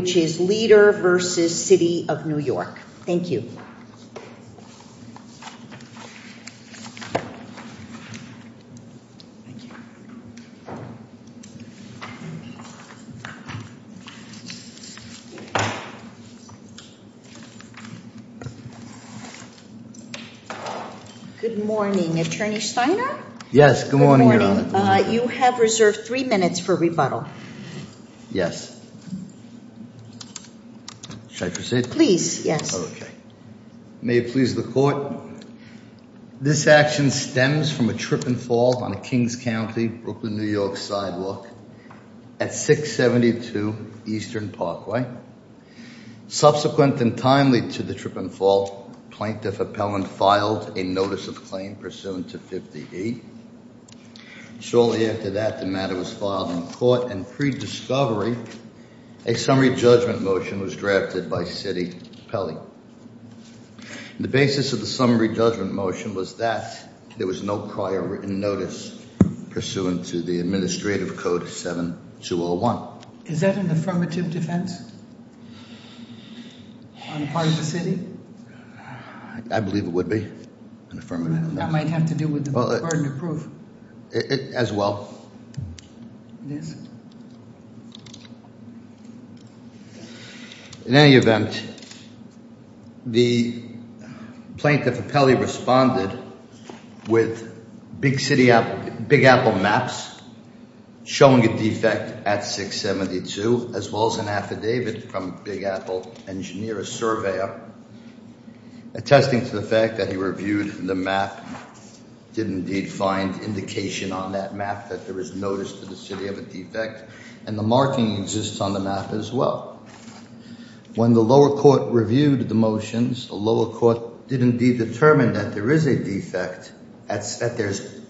which is Lieder v. City of New York. Thank you. Good morning. Attorney Steiner? Yes, good morning, Your Honor. You have reserved three minutes for rebuttal. Yes. Should I proceed? Please, yes. Okay. May it please the Court. This action stems from a trip and fall on a Kings County, Brooklyn, New York sidewalk at 672 Eastern Parkway. Subsequent and timely to the trip and fall, plaintiff appellant filed a notice of claim pursuant to 58. Shortly after that the matter was filed in court and pre-discovery a summary judgment motion was drafted by City Appellate. The basis of the summary judgment motion was that there was no prior written notice pursuant to the Administrative Code 7201. Is that an affirmative defense on the part of the City? I believe it would be an affirmative. That might have to do with the burden of proof. As well. Yes. In any event, the plaintiff appellee responded with Big Apple maps showing a defect at 672 as well as an affidavit from Big Apple engineer, a surveyor, attesting to the fact that he reviewed the map, did indeed find indication on that map that there is notice to the city of a defect and the marking exists on the map as well. When the lower court reviewed the motions, the lower court did indeed determine that there is a defect, that there's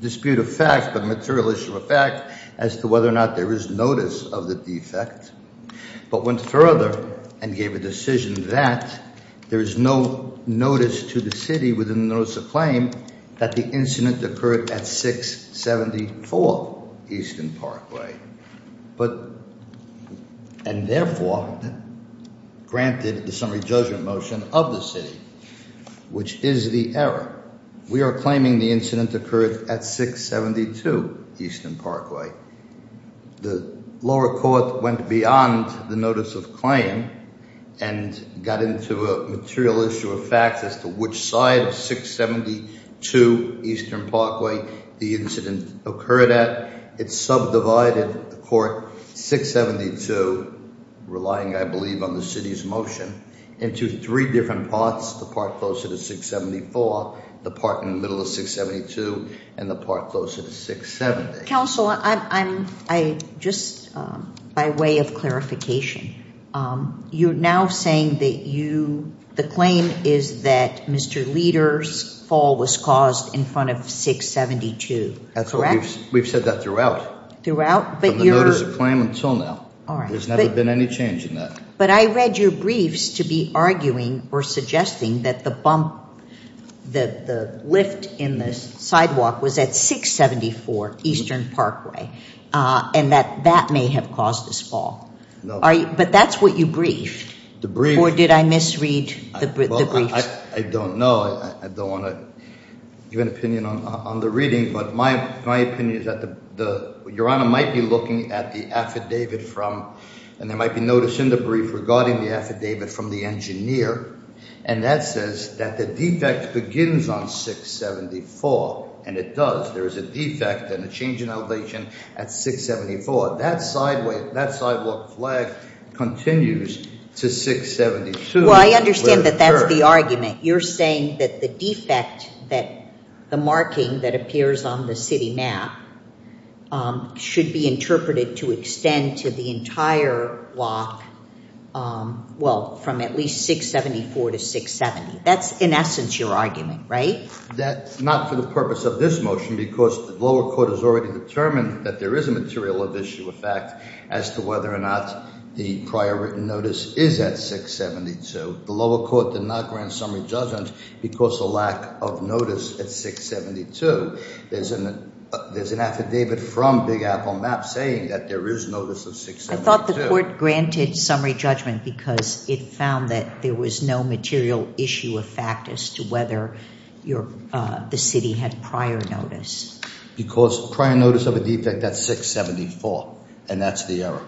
dispute of fact but material issue of fact as to whether or not there is notice of the defect but went further and gave a decision that there is no notice to the city within the notice of claim that the incident occurred at 674 Easton Parkway but and therefore granted the summary judgment motion of the city which is the error. We are claiming the incident occurred at 672 Easton Parkway. The lower court went beyond the notice of claim and got into a material issue of fact as to which side of 672 Easton Parkway the incident occurred at. It subdivided the court 672, relying I believe on the city's motion, into three different parts. The part closer to 674, the part in the middle of 672 and the part closer to 670. Counsel, just by way of clarification, you're now saying that the claim is that Mr. Leder's fall was caused in front of 672, correct? We've said that throughout. Throughout? From the notice of claim until now. There's never been any change in that. But I read your briefs to be arguing or suggesting that the bump, the lift in the sidewalk was at 674 Easton Parkway and that that may have caused this fall. But that's what you briefed or did I misread the briefs? I don't know. I don't want to give an opinion on the reading but my opinion is that the Your Honor might be looking at the affidavit from and there might be notice in the brief regarding the affidavit from the engineer and that says that the defect begins on 674 and it does. There is a defect and a change in elevation at 674. That sidewalk flag continues to 672. Well, I understand that that's the argument. You're saying that the defect that the marking that appears on the city map should be interpreted to extend to the entire block well from at least 674 to 670. That's in essence your argument, right? That's not for the purpose of this motion because the lower court has already determined that there is a material of issue effect as to whether or not the prior written notice is at 672. The lower court did not grant summary judgment because the lack of notice at 672. There's an affidavit from Big Apple Map saying that there is notice of 672. I thought the court granted summary judgment because it found that there was no material issue of fact as to whether the city had prior notice. Because prior notice of a defect at 674 and that's the error.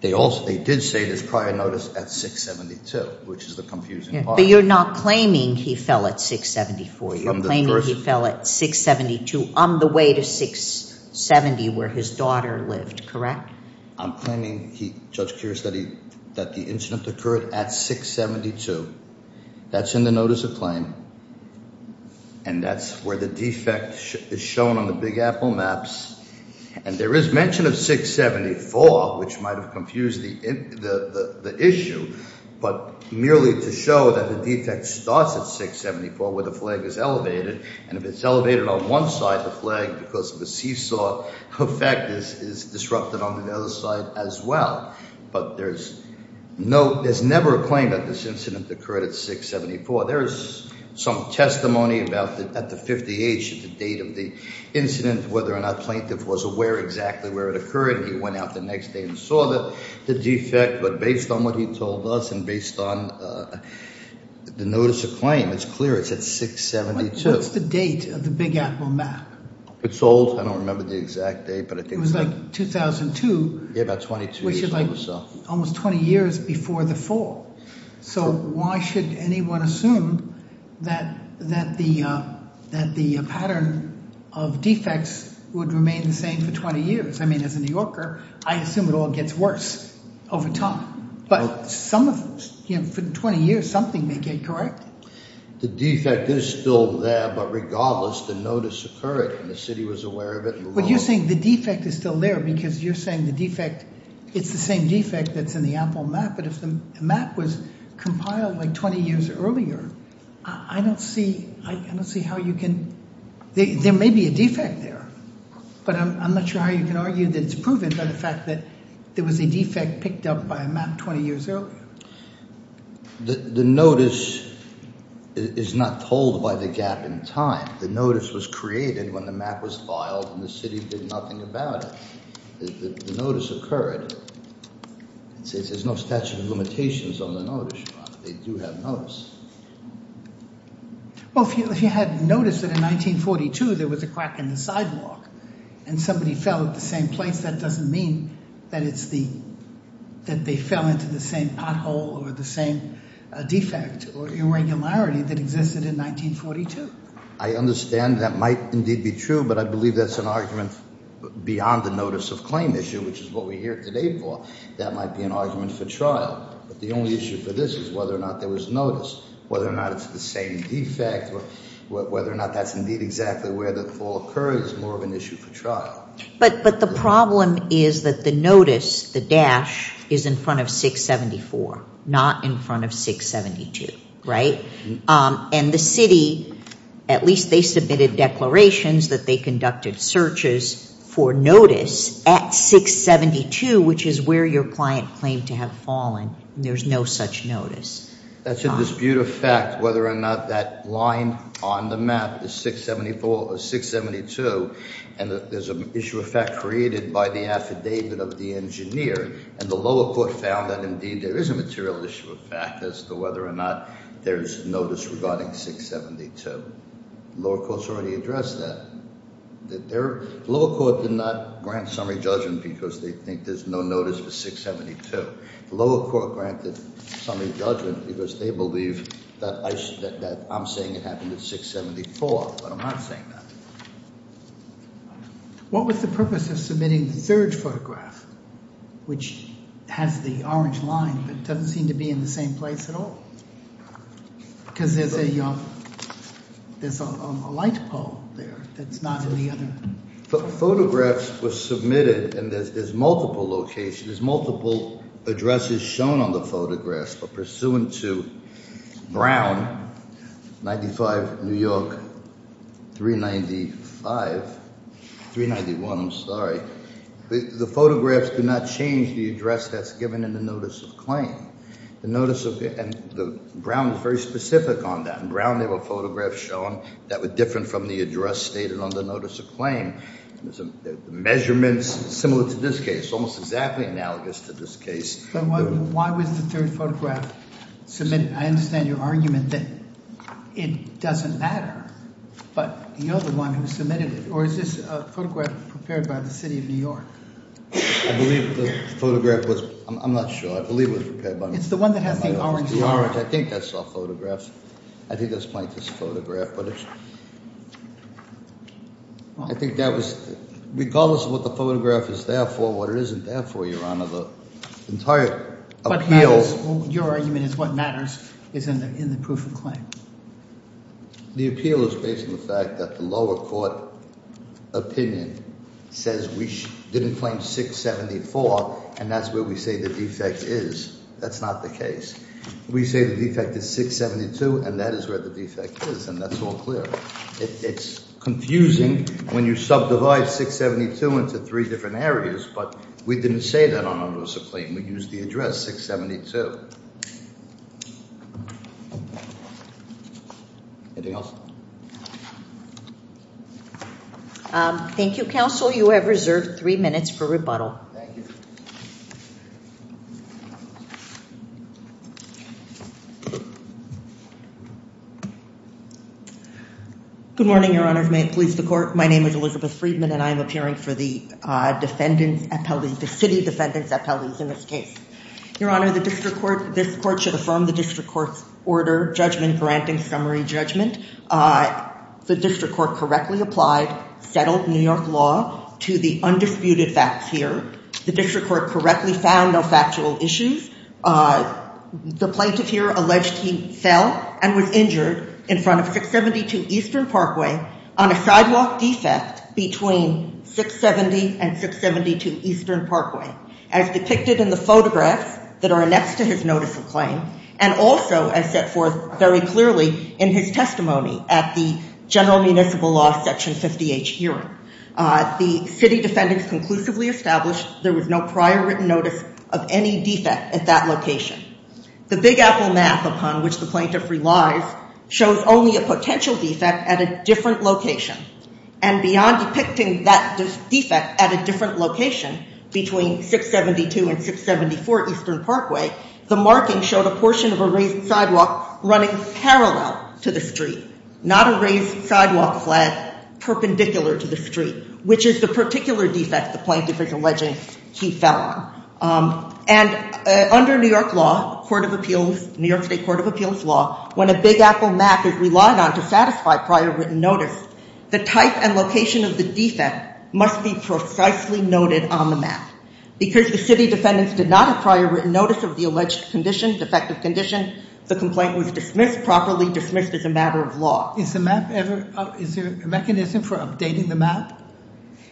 They did say there's prior notice at 672 which is the confusing part. But you're not claiming he fell at 674. You're claiming he fell at 672 on the way to 670 where his daughter lived, correct? I'm claiming he, Judge Kears, that the incident occurred at 672. That's in the notice of claim and that's where the defect is shown on the Big Apple Maps and there is mention of 674 which might have confused the issue. But merely to show that the defect starts at 674 where the flag is elevated and if it's elevated on one side the flag because of the seesaw effect is disrupted on the other side as well. But there's no, there's never a claim that this incident occurred at 674. There is some testimony about that at the 50H at the date of the incident whether or not the plaintiff was aware exactly where it occurred. He went out the next day and saw that the defect but based on what he told us and based on the notice of claim it's clear it's at 672. What's the date of the Big Apple Map? It's old. I don't remember the exact date but I think it was like 2002. Yeah, about 22 years ago or so. Almost 20 years before the fall. So why should anyone assume that the pattern of defects would remain the same for 20 years? I mean as a New Yorker I assume it all gets worse over time but some of them for 20 years something may get corrected. The defect is still there but regardless the notice occurred and the city was aware of it. But you're saying the defect is still there because you're saying the defect it's the same defect that's in the Apple Map but if the map was compiled like 20 years earlier I don't see how you can... There may be a defect there but I'm not sure how you can argue that it's proven by the fact that there was a defect picked up by a map 20 years earlier. The notice is not told by the gap in time. The notice was created when the map was filed and the city did nothing about it. The notice occurred. There's no statute of limitations on the notice. They do have notice. Well if you had noticed that in 1942 there was a crack in the sidewalk and somebody fell at the same place that doesn't mean that it's the that they fell into the same pothole or the same defect or irregularity that existed in 1942. I understand that might indeed be true but I believe that's an argument beyond the notice of claim issue which is what we're here today for. That might be an argument for trial but the only issue for this is whether or not there was notice whether or not it's the same defect or whether or not that's indeed exactly where the fall occurred is more of an issue for trial. But the problem is that the notice the dash is in front of 674 not in front of 672 right and the city at least they submitted declarations that they conducted searches for notice at 672 which is where your client claimed to have fallen. There's no such notice. That's a dispute of fact whether or not that line on the is 674 or 672 and that there's an issue of fact created by the affidavit of the engineer and the lower court found that indeed there is a material issue of fact as to whether or not there's notice regarding 672. Lower courts already addressed that that their lower court did not grant summary judgment because they think there's no notice for 672. The lower court granted summary judgment because they believe that I should that I'm saying it happened at 674 but I'm not saying that. What was the purpose of submitting the third photograph which has the orange line but doesn't seem to be in the same place at all because there's a there's a light pole there that's not in the other. Photographs were submitted and there's multiple locations there's multiple addresses shown on the photographs but pursuant to Brown 95 New York 395 391 I'm sorry the photographs do not change the address that's given in the notice of claim. The notice of and the Brown is very specific on that and Brown they have a photograph shown that was different from the address stated on the notice of claim. There's some measurements similar to this case almost exactly analogous to this case. But why was the third photograph submitted? I understand your argument that it doesn't matter but you're the one who submitted it or is this a photograph prepared by the city of New York? I believe the photograph was I'm not sure I believe it was prepared by. It's the one that has the orange. The orange I think that's all photographs I think that's Mike's photograph but it's I think that was regardless of what the photograph is there for what it isn't there for your honor the entire appeals. Your argument is what matters is in the in the proof of claim. The appeal is based on the fact that the lower court opinion says we didn't claim 674 and that's where we say the defect is that's not the case. We say the defect is 672 and that is where the defect is and that's all clear. It's confusing when you subdivide 672 into three different areas but we didn't say that on notice of claim we use the address 672. Anything else? Thank you counsel you have reserved three minutes for rebuttal. Thank you. Good morning your honor of police the court my name is Elizabeth Friedman and I'm appearing for the defendants appellees the city defendants appellees in this case. Your honor the district court this court should affirm the district court's order judgment granting summary judgment. The district court correctly applied settled New York law to the undisputed facts here. The district court correctly found no factual issues. The plaintiff here alleged he fell and was injured in front of 672 Eastern Parkway on a sidewalk defect between 670 and 672 Eastern Parkway as depicted in the photographs that are next to his notice of claim and also as set forth very clearly in his testimony at the general municipal law section 58 hearing. The city defendants conclusively established there was no prior written notice of any defect at that location. The Big Apple map upon which the plaintiff relies shows only a potential defect at a different location and beyond depicting that defect at a different location between 672 and 674 Eastern Parkway the marking showed a portion of a raised sidewalk running parallel to the street not a raised sidewalk flag perpendicular to the street which is the particular defect the plaintiff is alleging he fell on. And under New York law court of appeals New York state court of appeals law when a Big Apple map is relied on to satisfy prior written notice the type and location of the defect must be precisely noted on the map because the city defendants did not acquire written notice of the alleged condition defective condition the complaint was dismissed properly dismissed as a matter of law. Is the map ever is there a mechanism for updating the map?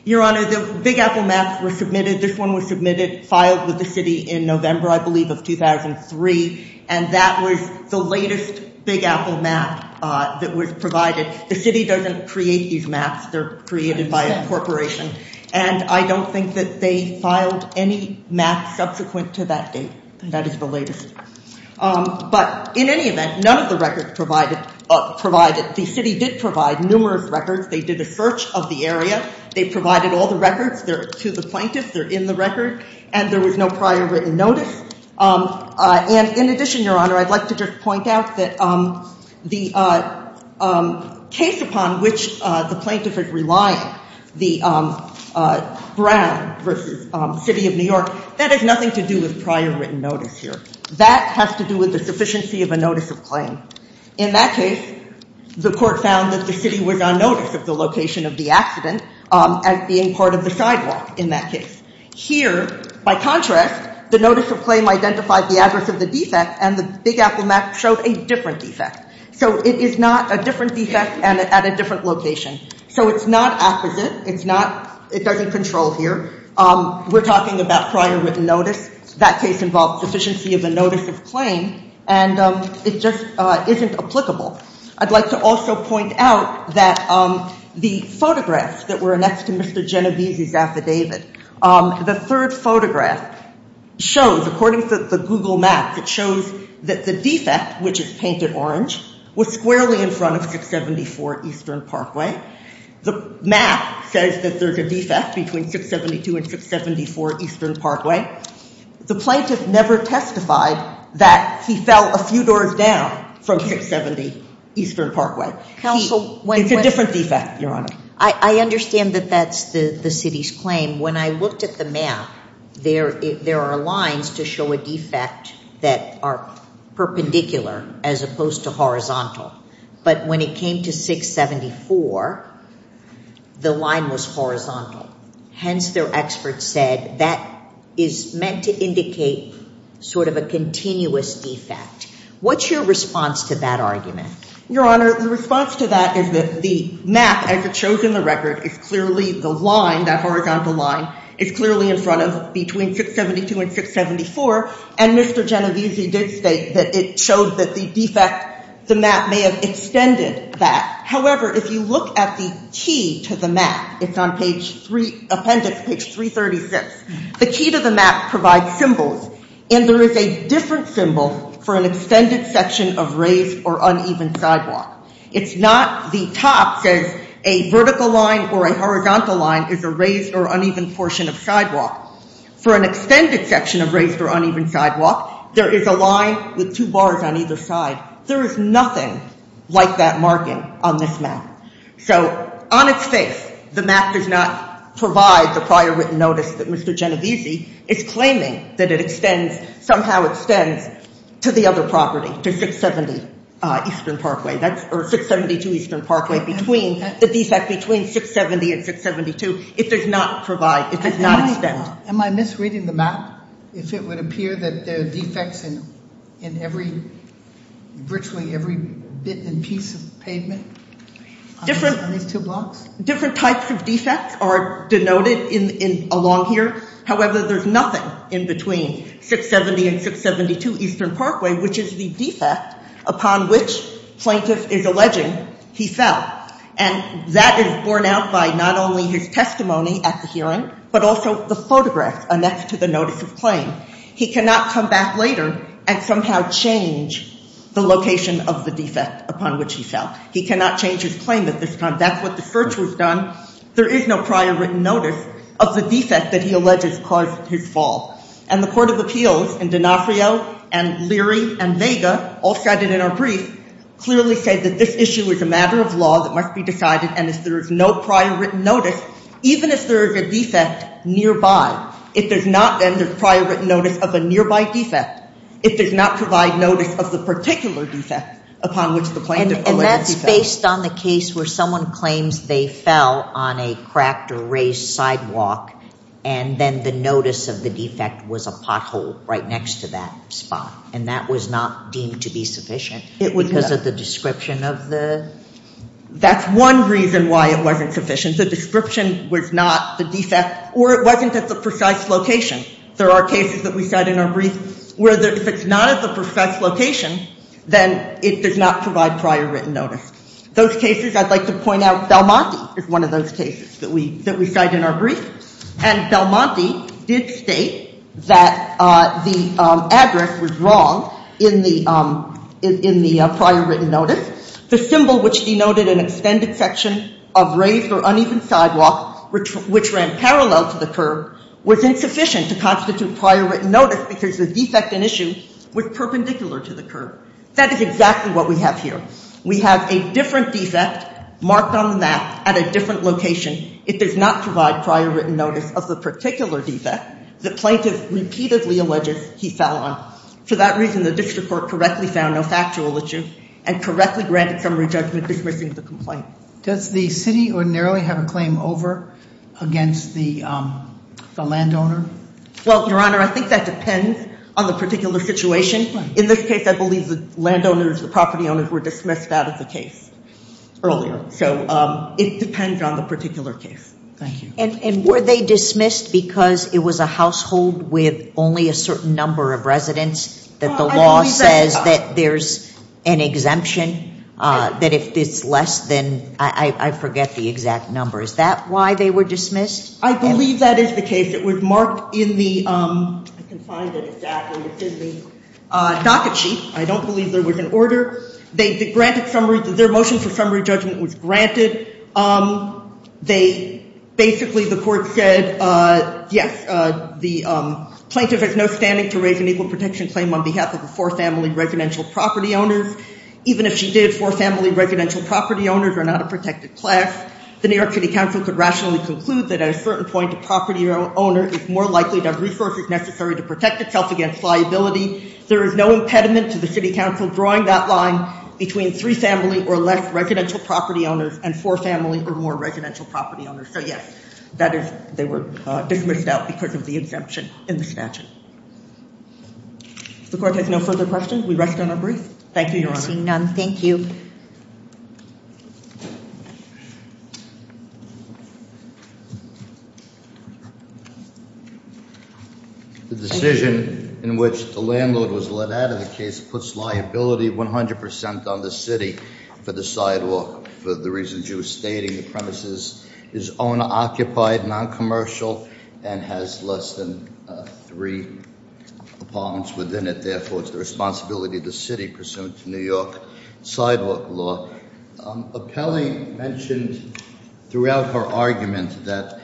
Your honor the Big Apple maps were submitted this one was submitted filed with the city in November I believe of 2003 and that was the latest Big Apple map that was provided the city doesn't create these maps they're created by a corporation and I don't think that they filed any map subsequent to that date and that is the latest but in any event none of the records provided up provided the city did provide numerous records they did a search of the area they provided all the records there to the plaintiff they're in the record and there was no prior written notice and in addition your honor I'd like to just point out that the case upon which the plaintiff is relying the Brown versus city of New York that has nothing to do with prior written notice here that has to do with the sufficiency of a notice of claim in that case the court found that the city was on notice of the location of the accident as being part of the sidewalk in that case here by contrast the notice of claim identified the address of the defect and the Big Apple map showed a different defect so it is not a different defect and at a different location so it's not apposite it's not it doesn't control here we're talking about prior written notice that case involved sufficiency of the notice of claim and it just isn't applicable I'd like to also point out that the photographs that are next to Mr. Genovese's affidavit the third photograph shows according to the google maps it shows that the defect which is painted orange was squarely in front of 674 eastern parkway the map says that there's a defect between 672 and 674 eastern parkway the plaintiff never testified that he fell a few doors down from 670 eastern parkway counsel when it's a different defect your honor I understand that that's the the city's claim when I looked at the map there there are lines to show a defect that are perpendicular as opposed to horizontal but when it came to 674 the line was horizontal hence their experts said that is meant to indicate sort of a continuous defect what's your response to that argument your honor the response to that is that the map as it shows in the record is clearly the line that horizontal line is clearly in front of between 672 and 674 and Mr. Genovese did state that it showed that the defect the map may have extended that however if you look at the key to the map it's on page three appendix page 336 the key to the map provides symbols and there is a different symbol for an extended section of uneven sidewalk it's not the top says a vertical line or a horizontal line is a raised or uneven portion of sidewalk for an extended section of raised or uneven sidewalk there is a line with two bars on either side there is nothing like that marking on this map so on its face the map does not provide the prior written notice that Mr. Genovese is claiming that it extends somehow extends to the other property to 670 uh eastern parkway that's or 672 eastern parkway between the defect between 670 and 672 it does not provide it does not extend am i misreading the map if it would appear that there are defects in in every virtually every bit and piece of pavement different on these two blocks different types of defects are denoted in in along here however there's nothing in between 670 and 672 eastern parkway which is the defect upon which plaintiff is alleging he fell and that is borne out by not only his testimony at the hearing but also the photographs and that's to the notice of claim he cannot come back later and somehow change the location of the defect upon which he fell he cannot change his claim at this time that's what the search was done there is no prior written notice of the defect that he alleges caused his fall and the court of appeals and D'Onofrio and Leary and Vega all said it in our brief clearly said that this issue is a matter of law that must be decided and if there is no prior written notice even if there is a defect nearby if there's not then there's prior written notice of a nearby defect it does not provide notice of the particular defect upon which the plaintiff and that's based on the case where someone claims they fell on a cracked or raised sidewalk and then the notice of the defect was a pothole right next to that spot and that was not deemed to be sufficient it was because of the description of the that's one reason why it wasn't sufficient the description was not the defect or it wasn't at the precise location there are cases that we said in our brief where if it's not at the precise location then it does not provide prior written notice those cases I'd like to point out Belmonte is one of those cases that we that we cite in our brief and Belmonte did state that the address was wrong in the prior written notice the symbol which denoted an extended section of raised or uneven sidewalk which ran parallel to the curb was insufficient to constitute prior written notice because the defect and issue was perpendicular to the curb that is exactly what we have here we have a different defect marked on the map at a different location it does not provide prior written notice of the particular defect the plaintiff repeatedly alleges he fell on for that reason the district court correctly found no factual issue and correctly granted summary judgment dismissing the complaint does the city ordinarily have a claim over against the landowner well your honor I think that depends on the particular situation in this case I believe the landowners the property owners were dismissed out of the case earlier so it depends on the particular case thank you and were they dismissed because it was a household with only a certain number of residents that the law says that there's an exemption that if it's less than I forget the exact number is that why they were dismissed I believe that is the case it was marked in the docket sheet I don't believe there was an order they granted summary their motion for summary judgment was granted they basically the court said yes the plaintiff has no standing to raise an equal protection claim on behalf of the four residential property owners even if she did for family residential property owners are not a protected class the New York City Council could rationally conclude that at a certain point a property owner is more likely to have resources necessary to protect itself against liability there is no impediment to the city council drawing that line between three family or less residential property owners and four family or more residential property owners so yes that is they were dismissed out because of the exemption in the statute the court has no further questions we rest on our brief thank you your honor seeing none thank you the decision in which the landlord was let out of the case puts liability 100 percent on the city for the sidewalk for the reasons you were stating the premises is owner occupied non-commercial and has less than three apartments within it therefore it's the responsibility of the city pursuant to New York sidewalk law appellee mentioned throughout her argument that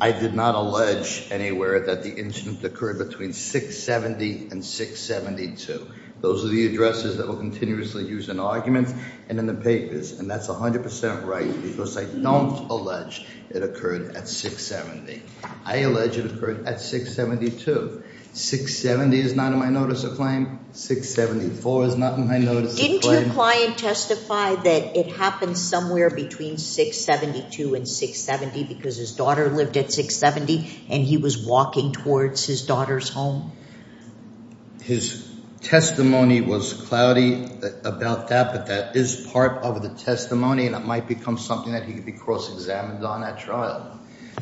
I did not allege anywhere that the incident occurred between 670 and 672 those are the addresses that will continuously use an argument and in the papers and that's 100 percent right because I don't allege it occurred at 670 I allege it occurred at 672 670 is not in my notice of claim 674 is not in my notice didn't your client testify that it happened somewhere between 672 and 670 because his daughter lived at 670 and he was walking towards his daughter's home his testimony was cloudy about that but that is part of the testimony and it might become something that he could be cross-examined on at trial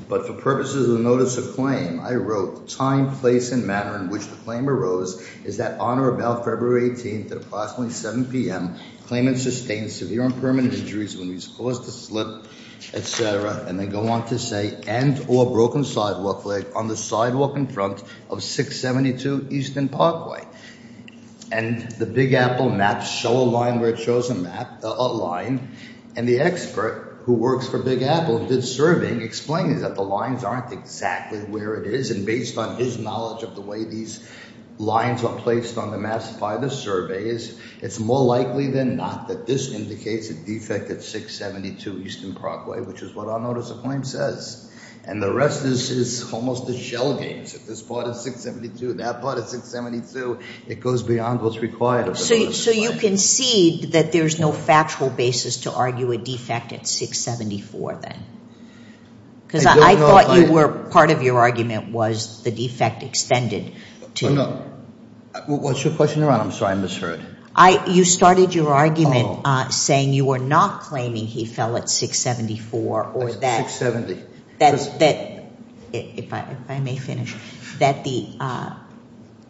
but for purposes of notice of claim I wrote time place and manner in which the claim arose is that on or about February 18th at approximately 7 p.m. claimant sustained severe and permanent injuries when he's forced to slip etc and they go on to say and or broken sidewalk leg on the sidewalk in front of 672 Eastern Parkway and the Big Apple maps show a line where it shows a map a line and the expert who works for Big Apple did surveying explaining that the lines aren't exactly where it is and based on his knowledge of the way these lines are placed on the maps by the survey is it's more likely than not that this indicates a defect at 672 Eastern Parkway which is what our notice of claim says and the rest is is almost a shell games at this part of 672 that part of 672 it goes beyond what's required so you can see that there's no factual basis to argue a defect at 674 then because I thought you were part of your argument was the defect extended to no what's your question your honor I'm sorry I misheard I you started your argument uh saying you were not claiming he fell at 674 or that 670 that's that if I if I may finish that the uh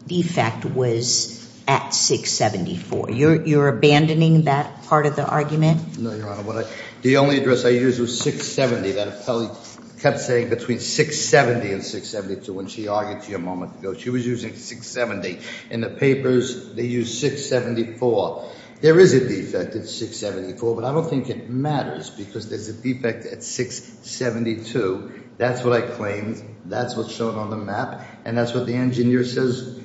defect was at 674 you're you're abandoning that part of the argument no your honor what I the only address I use was 670 that appellee kept saying between 670 and 672 when she argued to go she was using 670 in the papers they use 674 there is a defect at 674 but I don't think it matters because there's a defect at 672 that's what I claimed that's what's shown on the map and that's what the engineer says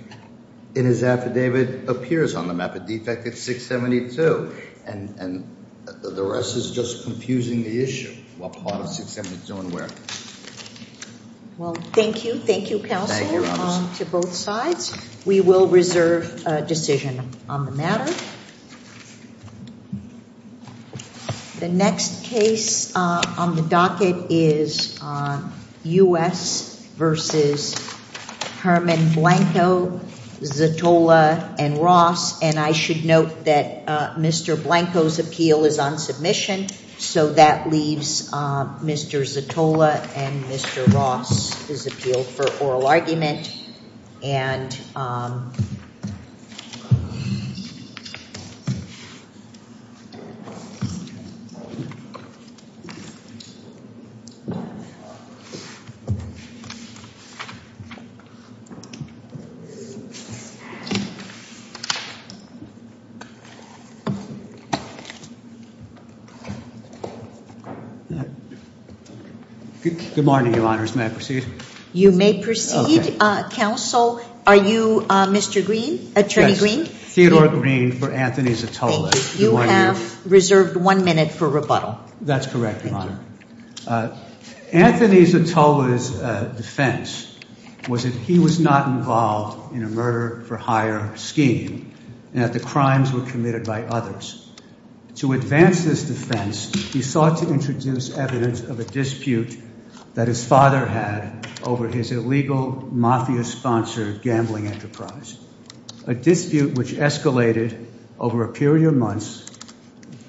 in his affidavit appears on the map a defect at 672 and and the rest is just confusing the issue what part of 672 and where well thank you thank you counsel to both sides we will reserve a decision on the matter the next case uh on the docket is uh u.s versus herman blanco zatolla and ross and I should note that uh mr blanco's appeal is on submission so that leaves uh mr zatolla and mr ross is appealed for oral argument and um uh good morning your honors may I proceed you may proceed uh counsel are you uh mr green attorney green theodore green for anthony's atola you have reserved one minute for rebuttal that's correct your honor uh anthony's atola's uh defense was that he was not involved in a murder for hire scheme and that the crimes were committed by others to advance this defense he sought to introduce evidence of a dispute that his father had over his illegal mafia sponsored gambling enterprise a dispute which escalated over a period of months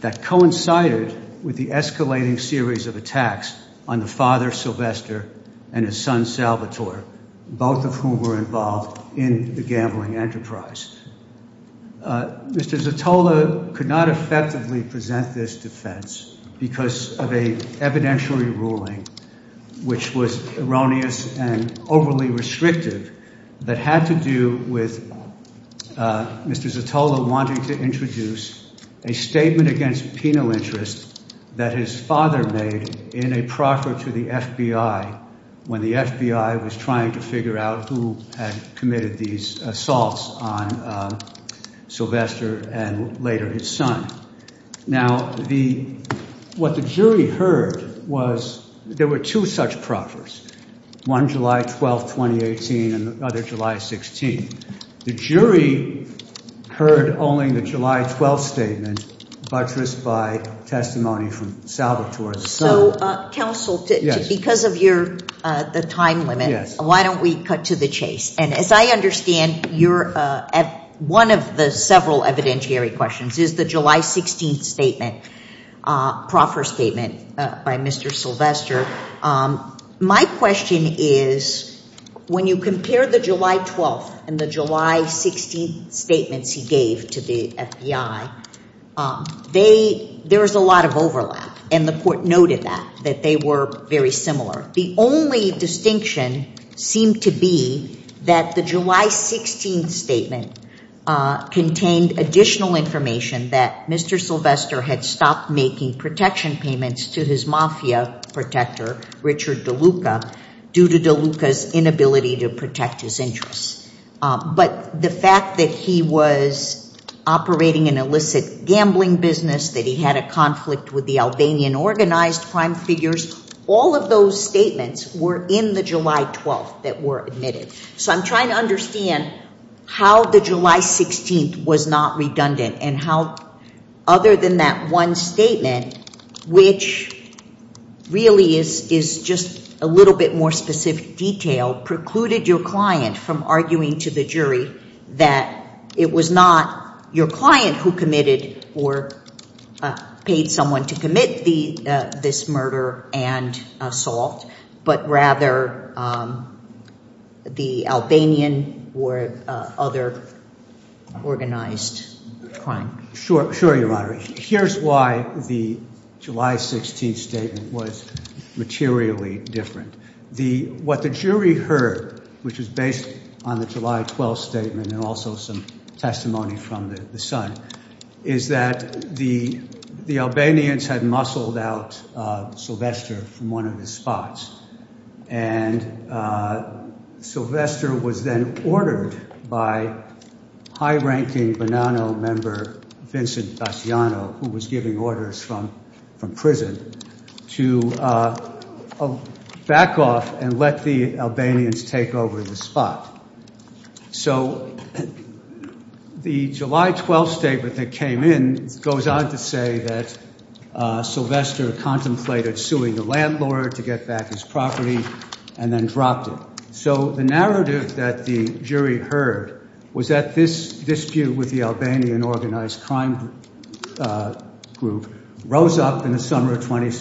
that coincided with the escalating series of attacks on the father sylvester and his son salvatore both of whom were involved in the gambling enterprise uh mr zatolla could not effectively present this defense because of a evidentiary ruling which was erroneous and overly restrictive that had to do with uh mr zatolla wanting to introduce a statement against penal interest that his father made in a to the fbi when the fbi was trying to figure out who had committed these assaults on sylvester and later his son now the what the jury heard was there were two such proffers one july 12 2018 and the other july 16th the jury heard only the july 12th statement buttressed by testimony from salvatore so uh counsel because of your uh the time limit why don't we cut to the chase and as i understand you're uh at one of the several evidentiary questions is the july 16th statement uh proffer statement uh by mr sylvester um my question is when you compare the july 12th and july 16th statements he gave to the fbi um they there was a lot of overlap and the court noted that that they were very similar the only distinction seemed to be that the july 16th statement uh contained additional information that mr sylvester had stopped making protection payments to his mafia protector richard deluca due to deluca's inability to protect his interests but the fact that he was operating an illicit gambling business that he had a conflict with the albanian organized crime figures all of those statements were in the july 12th that were admitted so i'm trying to understand how the july 16th was not redundant and how other than that one statement which really is is just a little bit more specific detail precluded your client from arguing to the jury that it was not your client who committed or paid someone to commit the uh this murder and assault but rather um the albanian or uh other organized crime sure sure you're here's why the july 16th statement was materially different the what the jury heard which is based on the july 12th statement and also some testimony from the son is that the the albanians had muscled out uh sylvester from one of his spots and uh sylvester was then ordered by high-ranking member vincent daciano who was giving orders from from prison to uh back off and let the albanians take over the spot so the july 12th statement that came in goes on to say that uh sylvester contemplated suing the landlord to get back his property and then dropped it so the narrative that the jury heard was that this dispute with the albanian organized crime uh group rose up in the summer of 20